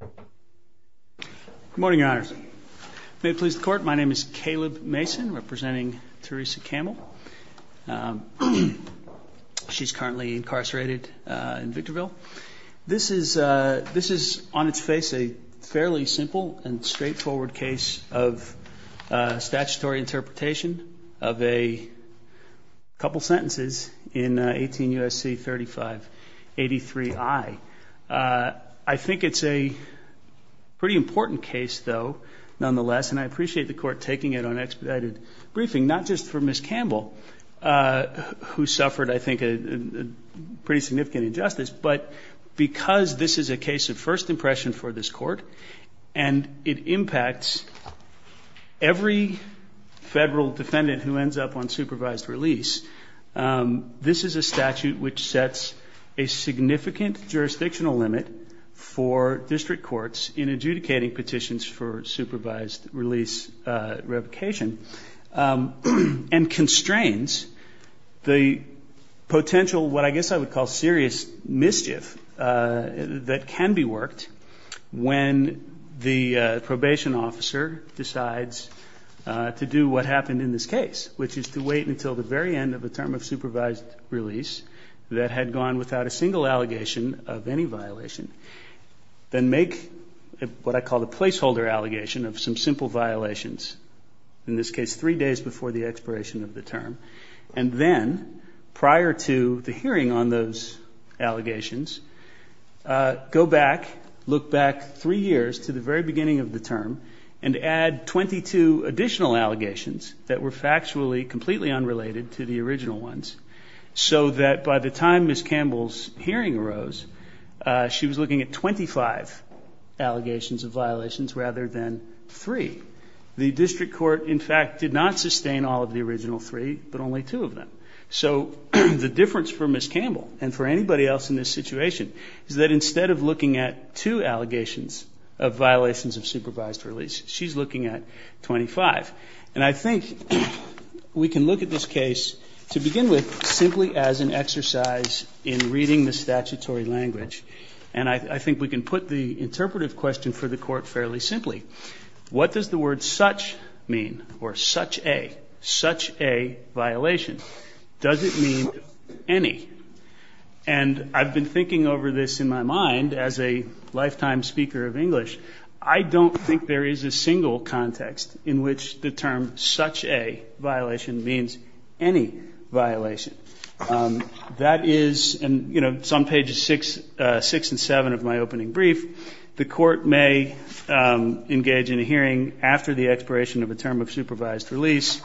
Good morning, your honors. May it please the court, my name is Caleb Mason, representing Theresa Campbell. She's currently incarcerated in Victorville. This is on its face a fairly simple and straightforward case of statutory interpretation of a couple sentences in 18 I think it's a pretty important case, though, nonetheless, and I appreciate the court taking it on expedited briefing, not just for Ms. Campbell, who suffered, I think, a pretty significant injustice, but because this is a case of first impression for this court and it impacts every federal defendant who ends up on supervised release, this is a statute which sets a significant jurisdictional limit for district courts in adjudicating petitions for supervised release revocation and constrains the potential, what I guess I would call serious mischief that can be worked when the probation officer decides to do what happened in this had gone without a single allegation of any violation, then make what I call the placeholder allegation of some simple violations, in this case three days before the expiration of the term, and then prior to the hearing on those allegations, go back, look back three years to the very beginning of the term, and add 22 additional allegations that were factually completely unrelated to the original ones, so that by the time Ms. Campbell's hearing arose, she was looking at 25 allegations of violations rather than three. The district court, in fact, did not sustain all of the original three, but only two of them. So the difference for Ms. Campbell and for anybody else in this situation is that instead of looking at two allegations of violations of supervised release, she's looking at We can look at this case to begin with simply as an exercise in reading the statutory language. And I think we can put the interpretive question for the Court fairly simply. What does the word such mean, or such a, such a violation? Does it mean any? And I've been thinking over this in my mind as a lifetime speaker of English. I don't think there is a single context in which the term such a violation means any violation. That is, and, you know, it's on pages 6 and 7 of my opening brief, the Court may engage in a hearing after the expiration of a term of supervised release,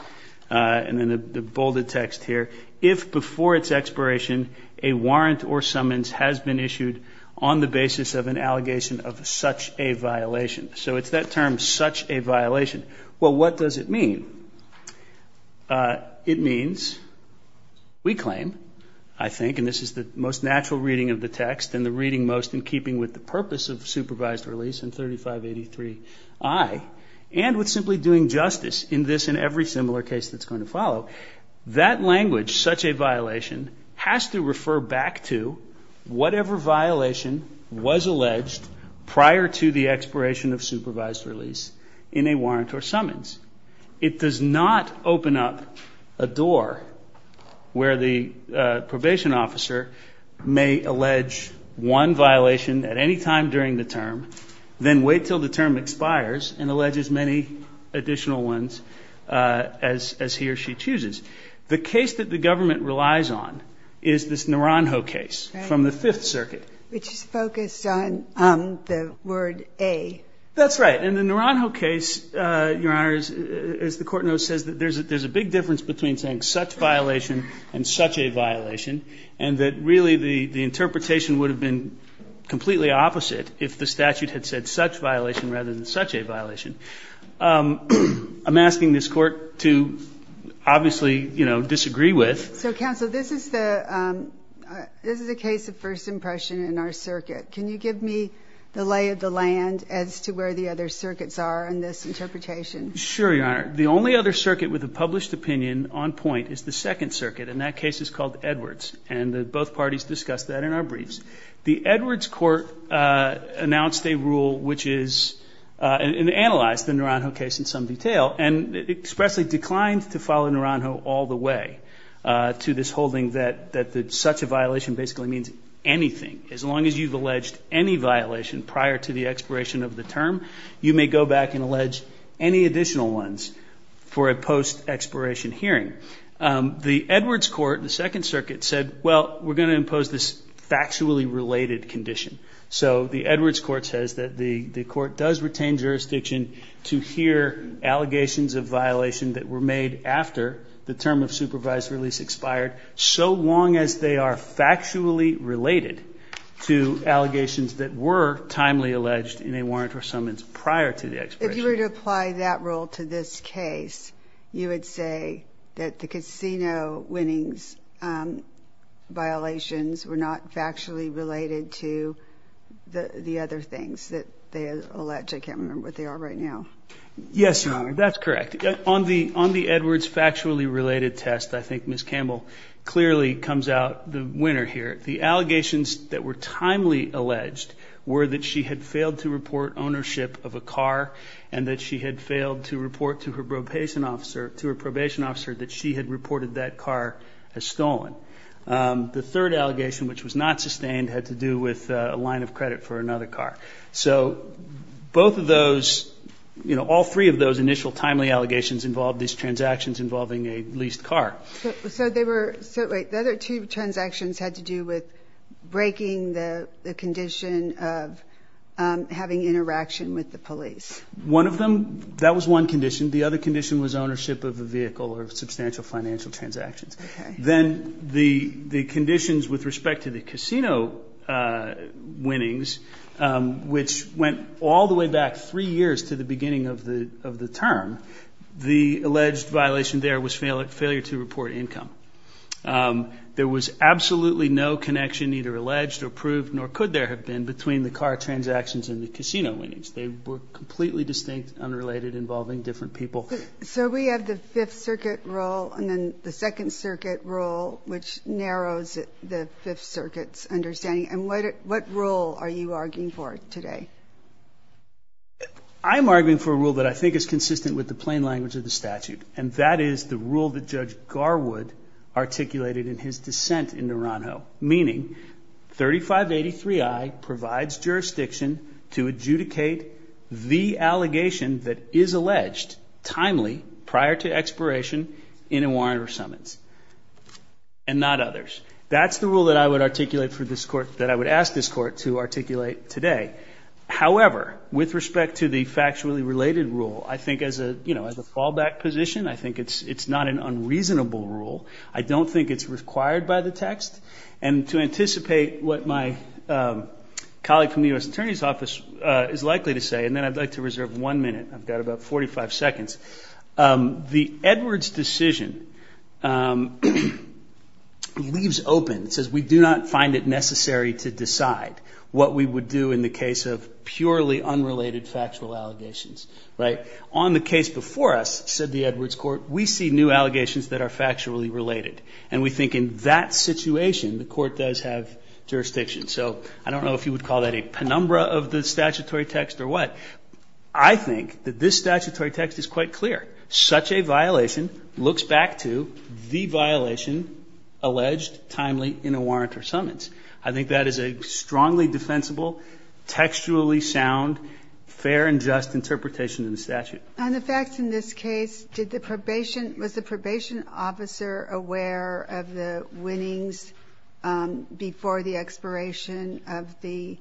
and then the bolded text here, if before its expiration, a warrant or summons has been issued on the basis of an allegation of such a violation. So it's that term, such a violation. Well, what does it mean? It means, we claim, I think, and this is the most natural reading of the text and the reading most in keeping with the purpose of supervised release in 3583I, and with simply doing justice in this and every similar case that's going to follow, that language, such a violation, has to refer back to whatever violation was alleged prior to the expiration of supervised release in a warrant or summons. It does not open up a door where the probation officer may allege one violation at any time during the term, then wait till the term expires and allege as many additional ones as he or she chooses. The case that the government relies on is this Naranjo case from the Fifth Circuit. Right, which is focused on the word a. That's right. And the Naranjo case, Your Honor, as the Court knows, says that there's a big difference between saying such violation and such a violation, and that really the interpretation would have been completely opposite if the statute had said such violation rather than such a violation. I'm asking this Court to obviously, you know, disagree with. So, Counsel, this is the case of first impression in our circuit. Can you give me the lay of the land as to where the other circuits are in this interpretation? Sure, Your Honor. The only other circuit with a published opinion on point is the Second Circuit, and that case is called Edwards, and both parties discussed that in our briefs. The Edwards Court announced a rule which is, and analyzed the Naranjo case in some detail, and expressly declined to follow Naranjo all the way to this holding that such a violation basically means anything. As long as you've alleged any violation prior to the expiration of the term, you may go back and allege any additional ones for a post-expiration hearing. The Edwards Court in the Second Circuit said, well, we're going to impose this factually related condition. So the Edwards Court says that the Court does retain jurisdiction to hear allegations of violation that were made after the term of supervised release expired so long as they are factually related to allegations that were timely alleged in a warrant or summons prior to the expiration. If you were to apply that rule to this case, you would say that the casino winnings violations were not factually related to the other things that they allege. I can't remember what they are right now. Yes, Your Honor, that's correct. On the Edwards factually related test, I think Ms. Campbell clearly comes out the winner here. The allegations that were timely alleged were that she had failed to report ownership of a car and that she had failed to report to her probation officer that she had reported that car as stolen. The third allegation, which was not sustained, had to do with a line of credit for another car. So both of those, you know, all three of those initial timely allegations involved these transactions involving a leased car. So the other two transactions had to do with breaking the condition of having interaction with the police. One of them, that was one condition. The other condition was ownership of a vehicle or substantial financial transactions. Then the conditions with respect to the casino winnings, which went all the way back three years to the beginning of the term, the alleged violation there was failure to report income. There was absolutely no connection, either alleged or proved, nor could there have been, between the car transactions and the casino winnings. They were completely distinct, unrelated, involving different people. So we have the Fifth Circuit rule and then the Second Circuit rule, which narrows the Fifth Circuit's understanding. And what rule are you arguing for today? I'm arguing for a rule that I think is consistent with the plain language of the statute. And that is the rule that Judge Garwood articulated in his dissent in Naranjo, meaning 3583I provides jurisdiction to adjudicate the allegation that is alleged timely prior to expiration in a warrant or summons, and not others. That's the rule that I would articulate for this Court, that I would ask this Court to articulate today. However, with respect to the factually related rule, I think as a fallback position, I think it's not an unreasonable rule. I don't think it's required by the text. And to anticipate what my colleague from the U.S. Attorney's Office is likely to say, and then I'd like to reserve one minute, I've got about 45 seconds. The Edwards decision leaves open, it says we do not find it necessary to decide what we would do in the case of purely unrelated factual allegations. On the case before us, said the Edwards Court, we see new allegations that are factually related. And we think in that situation, the Court does have jurisdiction. So I don't know if you would call that a penumbra of the statutory text or what. I think that this statutory text is quite clear. Such a violation looks back to the violation alleged timely in a warrant or summons. I think that is a strongly defensible, textually sound, fair and just interpretation in the statute. On the facts in this case, did the probation, was the probation officer aware of the winnings before the expiration of the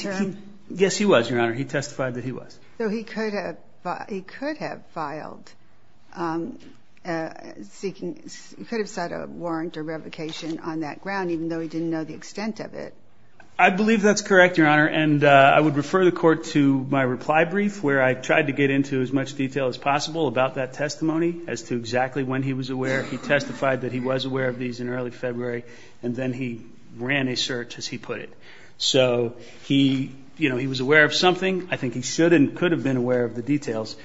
term? Yes he was, Your Honor. He testified that he was. So he could have, he could have filed, seeking, he could have sought a warrant or revocation on that ground even though he didn't know the extent of it. I believe that's correct, Your Honor, and I would refer the Court to my reply brief where I tried to get into as much detail as possible about that testimony as to exactly when he was aware. He testified that he was aware of these in early February, and then he ran a search as he put it. So he, you know, he was aware of something. I think he should and could have been aware of the details.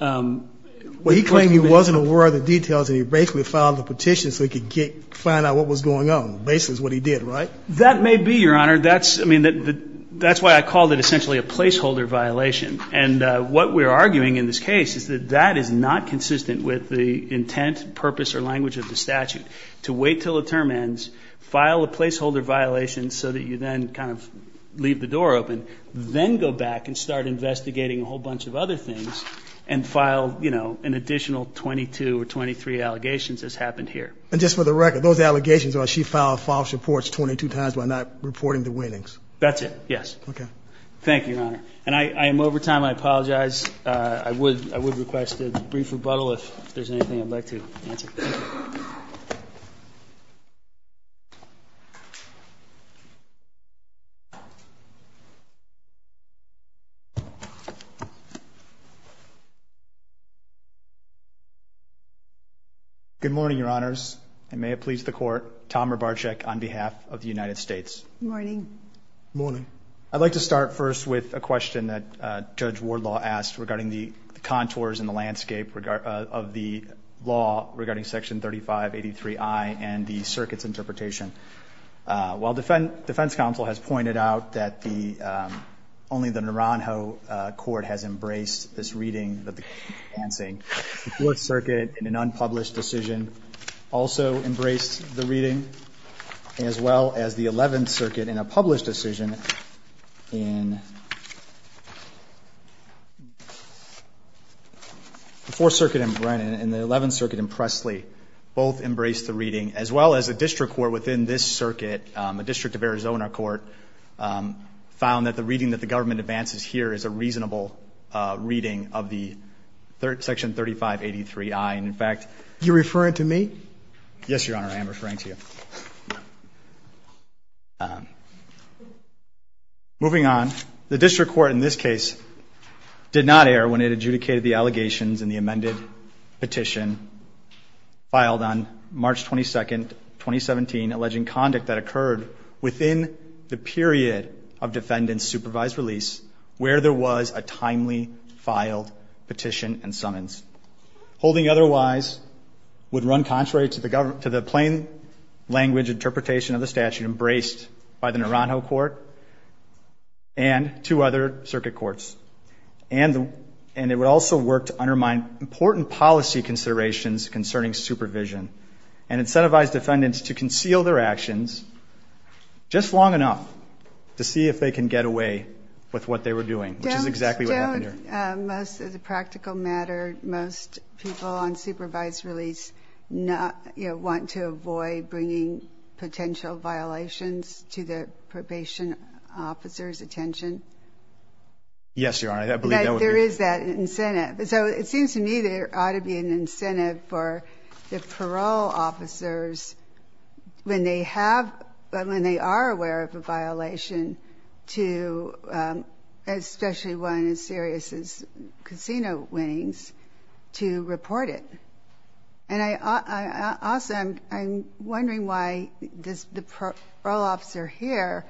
Well, he claimed he wasn't aware of the details and he basically filed a petition so he could get, find out what was going on, basically is what he did, right? That may be, Your Honor, that's, I mean, that's why I called it essentially a placeholder violation. And what we're arguing in this case is that that is not consistent with the intent, purpose, or language of the statute, to wait until the term ends, file a placeholder violation so that you then kind of leave the door open, then go back and start investigating a whole bunch of other things, and file, you know, an additional 22 or 23 allegations as happened here. And just for the record, those allegations are she filed false reports 22 times by not reporting the winnings? That's it, yes. Okay. Thank you, Your Honor. And I am over time. I apologize. I would, I would request a brief rebuttal if there's anything I'd like to answer. Good morning, Your Honors. And may it please the Court, Tom Rabarczyk on behalf of the United States. Morning. Morning. I'd like to start first with a question that Judge Wardlaw asked regarding the contours in the landscape of the law regarding Section 3583I and the circuit's interpretation. While defense counsel has pointed out that the, only the Naranjo Court has embraced this reading that the court is advancing, the Fourth Circuit in an unpublished decision also embraced the reading, as well as the Eleventh Circuit in a published decision in, the Fourth Circuit in Brennan and the Eleventh Circuit in Presley both embraced the reading, as well as the district court within this circuit, a district of Arizona court, found that the reading that the government advances here is a reasonable reading of the Section 3583I. And in fact, You're referring to me? Yes, Your Honor. I am referring to you. Moving on, the district court in this case did not err when it adjudicated the allegations in the amended petition filed on March 22nd, 2017, alleging conduct that occurred within the period of defendant's supervised release where there was a timely filed petition and summons. Holding otherwise would run contrary to the plain language interpretation of the statute embraced by the Naranjo Court and two other circuit courts. And it would also work to undermine important policy considerations concerning supervision and incentivize defendants to conceal their actions just long enough to see if they can get away with what they were doing, which is exactly what happened here. But most of the practical matter, most people on supervised release want to avoid bringing potential violations to the probation officer's attention. Yes, Your Honor. There is that incentive. So it seems to me there ought to be an incentive for the parole officers when they are aware of a violation to, especially one as serious as casino winnings, to report it. Also, I'm wondering why the parole officer here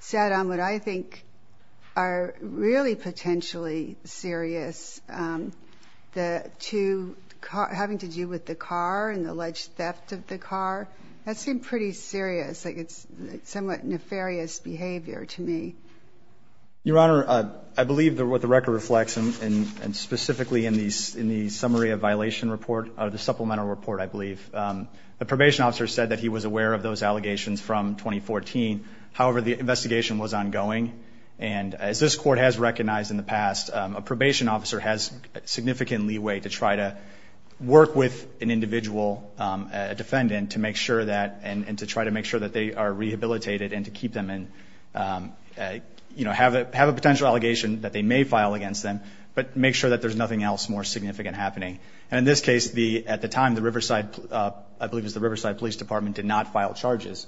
sat on what I think are really potentially serious, the two having to do with the car and the alleged theft of the car. That seemed pretty serious, like it's somewhat nefarious behavior to me. Your Honor, I believe that what the record reflects, and specifically in the summary of violation report, the supplemental report, I believe, the probation officer said that he was aware of those allegations from 2014. However, the investigation was ongoing. And as this Court has recognized in the past, a probation officer has significant leeway to try to work with an individual, a defendant, to make sure that, and to try to make sure that they are rehabilitated and to keep them in, you know, have a potential allegation that they may file against them, but make sure that there's nothing else more significant happening. And in this case, at the time, the Riverside, I believe it was the Riverside Police Department did not file charges.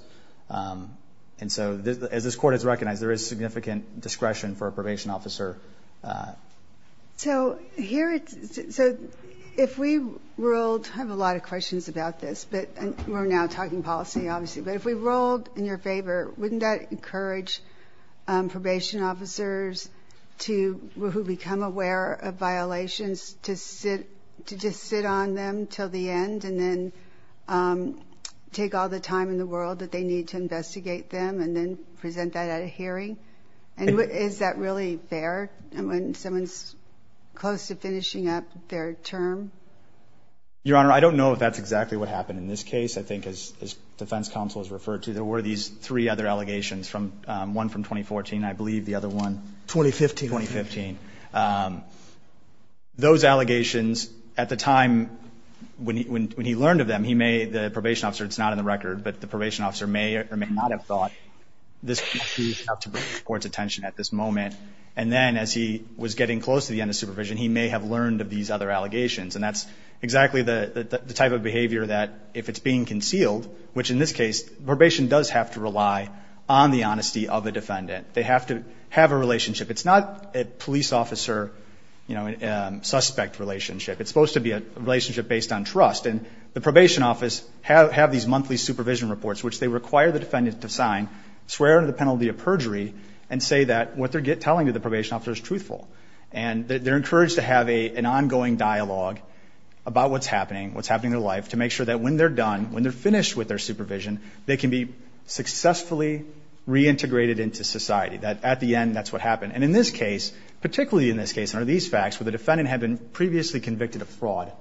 And so as this Court has recognized, there is significant discretion for a probation officer. So here, so if we ruled, I have a lot of questions about this, but we're now talking policy, obviously. But if we ruled in your favor, wouldn't that encourage probation officers to, who become aware of violations, to sit, to just sit on them until the end and then take all the time in the world that they need to investigate them and then present that at a hearing? And is that really fair when someone's close to finishing up their term? Your Honor, I don't know if that's exactly what happened in this case. I think as defense counsel has referred to, there were these three other allegations from, one from 2014, I believe the other one. 2015. 2015. Those allegations, at the time, when he learned of them, he may, the probation officer, it's moment. And then as he was getting close to the end of supervision, he may have learned of these other allegations. And that's exactly the type of behavior that, if it's being concealed, which in this case, probation does have to rely on the honesty of the defendant. They have to have a relationship. It's not a police officer, you know, suspect relationship. It's supposed to be a relationship based on trust. And the probation office have these monthly supervision reports, which they require the and say that what they're telling to the probation officer is truthful. And they're encouraged to have an ongoing dialogue about what's happening, what's happening in their life, to make sure that when they're done, when they're finished with their supervision, they can be successfully reintegrated into society, that at the end, that's what happened. And in this case, particularly in this case, under these facts where the defendant had been previously convicted of fraud,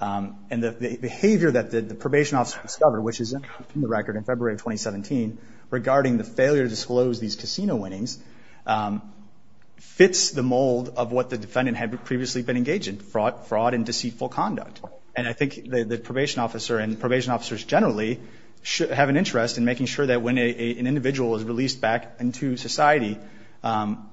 and the behavior that the probation officer discovered, which is in the record in February of 2017, regarding the failure to disclose these casino winnings, fits the mold of what the defendant had previously been engaged in, fraud and deceitful conduct. And I think the probation officer and probation officers generally have an interest in making sure that when an individual is released back into society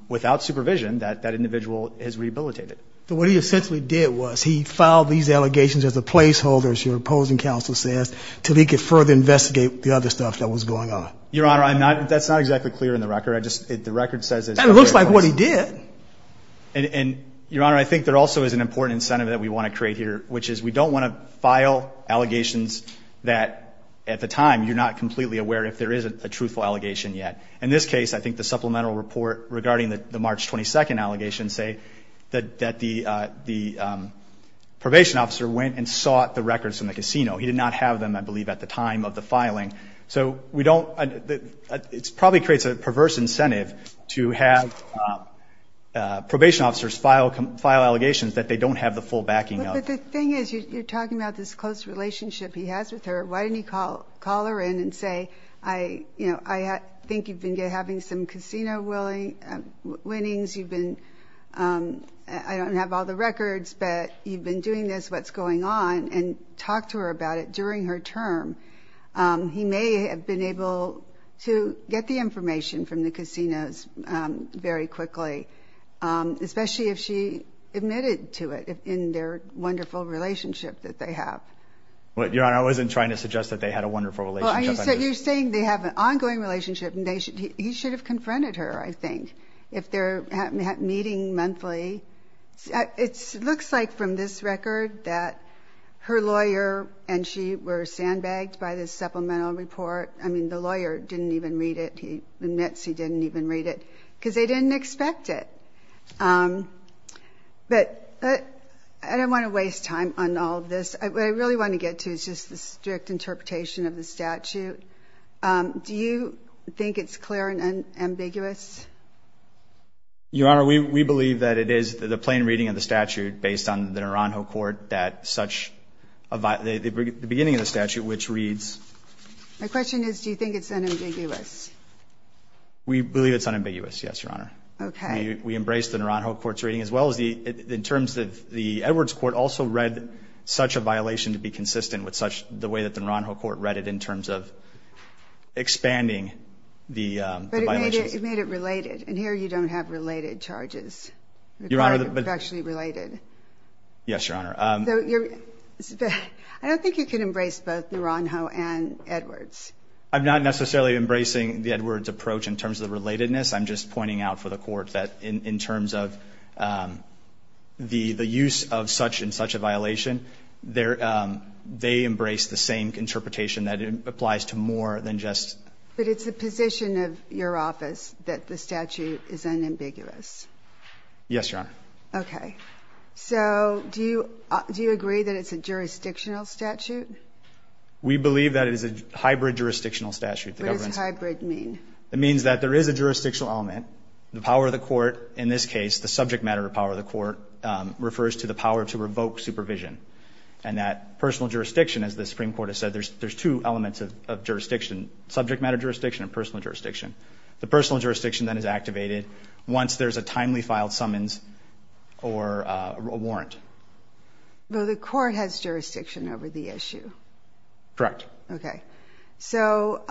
without supervision, that that individual is rehabilitated. So what he essentially did was he filed these allegations as a placeholder, as your opposing counsel says, until he could further investigate the other stuff that was going on. Your Honor, that's not exactly clear in the record. The record says it's a placeholder. That looks like what he did. And, Your Honor, I think there also is an important incentive that we want to create here, which is we don't want to file allegations that, at the time, you're not completely aware if there is a truthful allegation yet. In this case, I think the supplemental report regarding the March 22nd allegation say that the probation officer went and sought the records from the casino. He did not have them, I believe, at the time of the filing. So it probably creates a perverse incentive to have probation officers file allegations that they don't have the full backing of. But the thing is, you're talking about this close relationship he has with her. Why didn't he call her in and say, you know, I think you've been having some casino winnings. I don't have all the records, but you've been doing this, what's going on, and talk to her about it during her term. He may have been able to get the information from the casinos very quickly, especially if she admitted to it in their wonderful relationship that they have. Your Honor, I wasn't trying to suggest that they had a wonderful relationship. You're saying they have an ongoing relationship, and he should have confronted her, I think, if they're meeting monthly. It looks like from this record that her lawyer and she were sandbagged by this supplemental report. I mean, the lawyer didn't even read it. He admits he didn't even read it because they didn't expect it. But I don't want to waste time on all of this. What I really want to get to is just the strict interpretation of the statute. Do you think it's clear and ambiguous? Your Honor, we believe that it is the plain reading of the statute based on the Naranjo Court, the beginning of the statute, which reads. My question is, do you think it's unambiguous? We believe it's unambiguous, yes, Your Honor. Okay. We embrace the Naranjo Court's reading, as well as in terms of the Edwards Court also read such a violation to be consistent with the way that the Naranjo Court read it in terms of expanding the violations. But it made it related. And here you don't have related charges. Your Honor. They're actually related. Yes, Your Honor. I don't think you can embrace both Naranjo and Edwards. I'm not necessarily embracing the Edwards approach in terms of the relatedness. I'm just pointing out for the Court that in terms of the use of such and such a violation, they embrace the same interpretation that it applies to more than just. But it's the position of your office that the statute is unambiguous. Yes, Your Honor. Okay. So do you agree that it's a jurisdictional statute? We believe that it is a hybrid jurisdictional statute. What does hybrid mean? It means that there is a jurisdictional element. The power of the court in this case, the subject matter of power of the court, refers to the power to revoke supervision. And that personal jurisdiction, as the Supreme Court has said, there's two elements of jurisdiction, subject matter jurisdiction and personal jurisdiction. The personal jurisdiction then is activated once there's a timely filed summons or a warrant. Well, the Court has jurisdiction over the issue. Correct. Okay. So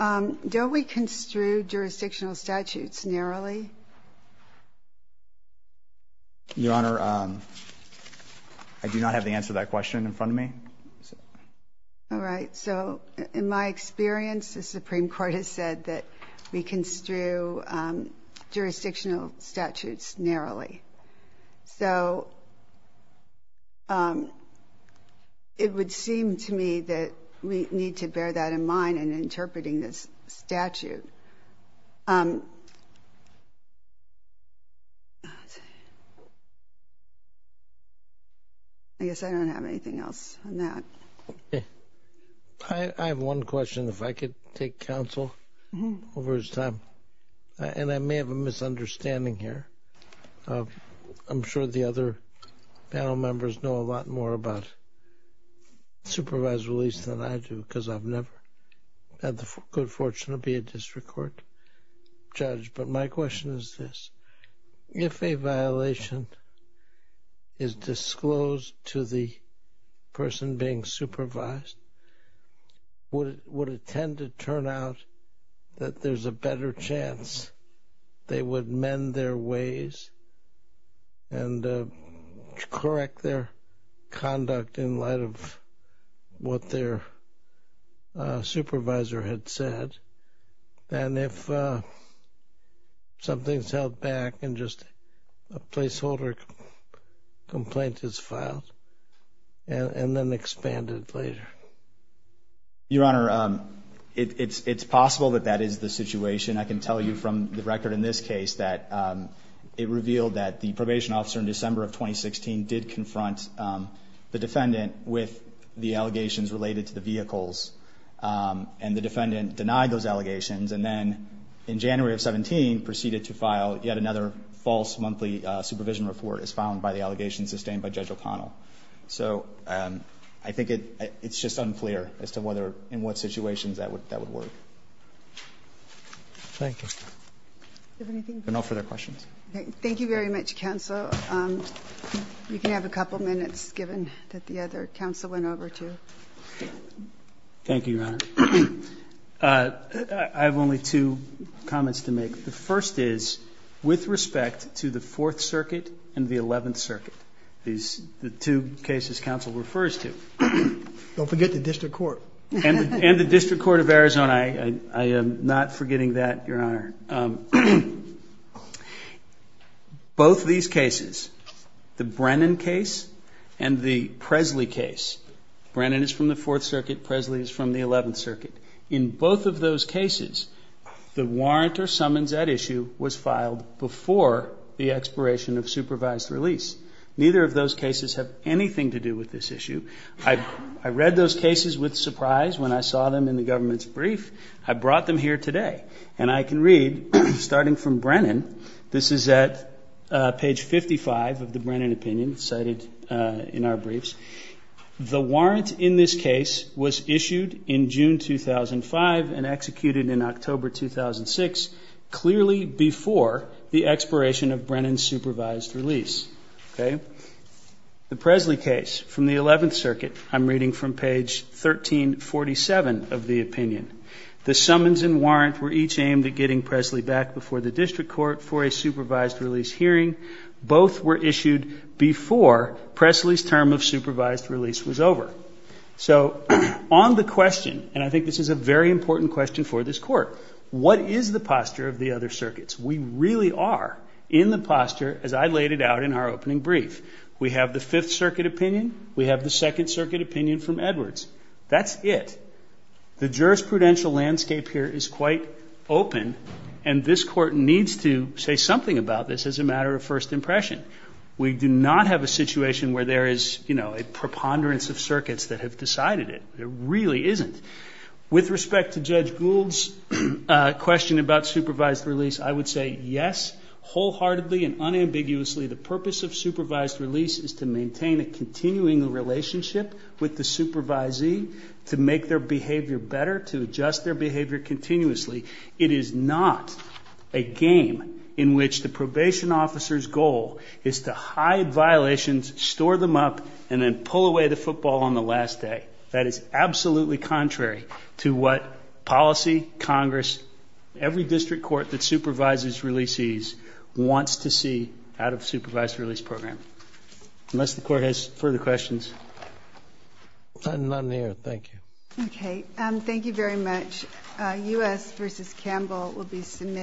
don't we construe jurisdictional statutes narrowly? Your Honor, I do not have the answer to that question in front of me. All right. So in my experience, the Supreme Court has said that we construe jurisdictional statutes narrowly. So it would seem to me that we need to bear that in mind in interpreting this statute. I guess I don't have anything else on that. I have one question, if I could take counsel over his time. And I may have a misunderstanding here. I'm sure the other panel members know a lot more about supervised release than I do, because I've never had the good fortune to be a district court judge. But my question is this. If a violation is disclosed to the person being supervised, would it tend to turn out that there's a better chance they would mend their ways and correct their conduct in light of what their supervisor had said? And if something's held back and just a placeholder complaint is filed and then expanded later? Your Honor, it's possible that that is the situation. I can tell you from the record in this case that it revealed that the probation officer in December of 2016 did confront the defendant with the allegations related to the vehicles, and the defendant denied those allegations, and then in January of 2017 proceeded to file yet another false monthly supervision report as found by the allegations sustained by Judge O'Connell. So I think it's just unclear as to whether in what situations that would work. Thank you. Do you have anything? No further questions. Thank you very much, counsel. You can have a couple minutes given that the other counsel went over to. Thank you, Your Honor. I have only two comments to make. The first is with respect to the Fourth Circuit and the Eleventh Circuit, the two cases counsel refers to. Don't forget the district court. And the district court of Arizona. I am not forgetting that, Your Honor. Both these cases, the Brennan case and the Presley case, Brennan is from the Fourth Circuit, Presley is from the Eleventh Circuit, in both of those cases the warrant or summons at issue was filed before the expiration of supervised release. Neither of those cases have anything to do with this issue. I read those cases with surprise when I saw them in the government's brief. I brought them here today. And I can read, starting from Brennan, this is at page 55 of the Brennan opinion cited in our briefs. The warrant in this case was issued in June 2005 and executed in October 2006, clearly before the expiration of Brennan's supervised release. The Presley case from the Eleventh Circuit I'm reading from page 1347 of the opinion. The summons and warrant were each aimed at getting Presley back before the district court for a supervised release hearing. Both were issued before Presley's term of supervised release was over. So on the question, and I think this is a very important question for this Court, what is the posture of the other circuits? We really are in the posture, as I laid it out in our opening brief. We have the Fifth Circuit opinion. We have the Second Circuit opinion from Edwards. That's it. The jurisprudential landscape here is quite open, and this Court needs to say something about this as a matter of first impression. We do not have a situation where there is, you know, a preponderance of circuits that have decided it. There really isn't. With respect to Judge Gould's question about supervised release, I would say yes, wholeheartedly and unambiguously, the purpose of supervised release is to maintain a continuing relationship with the supervisee to make their behavior better, to adjust their behavior continuously. It is not a game in which the probation officer's goal is to hide violations, store them up, and then pull away the football on the last day. That is absolutely contrary to what policy, Congress, every district court that supervises releasees wants to see out of a supervised release program. Unless the Court has further questions. None here. Thank you. Okay. Thank you very much. U.S. v. Campbell will be submitted.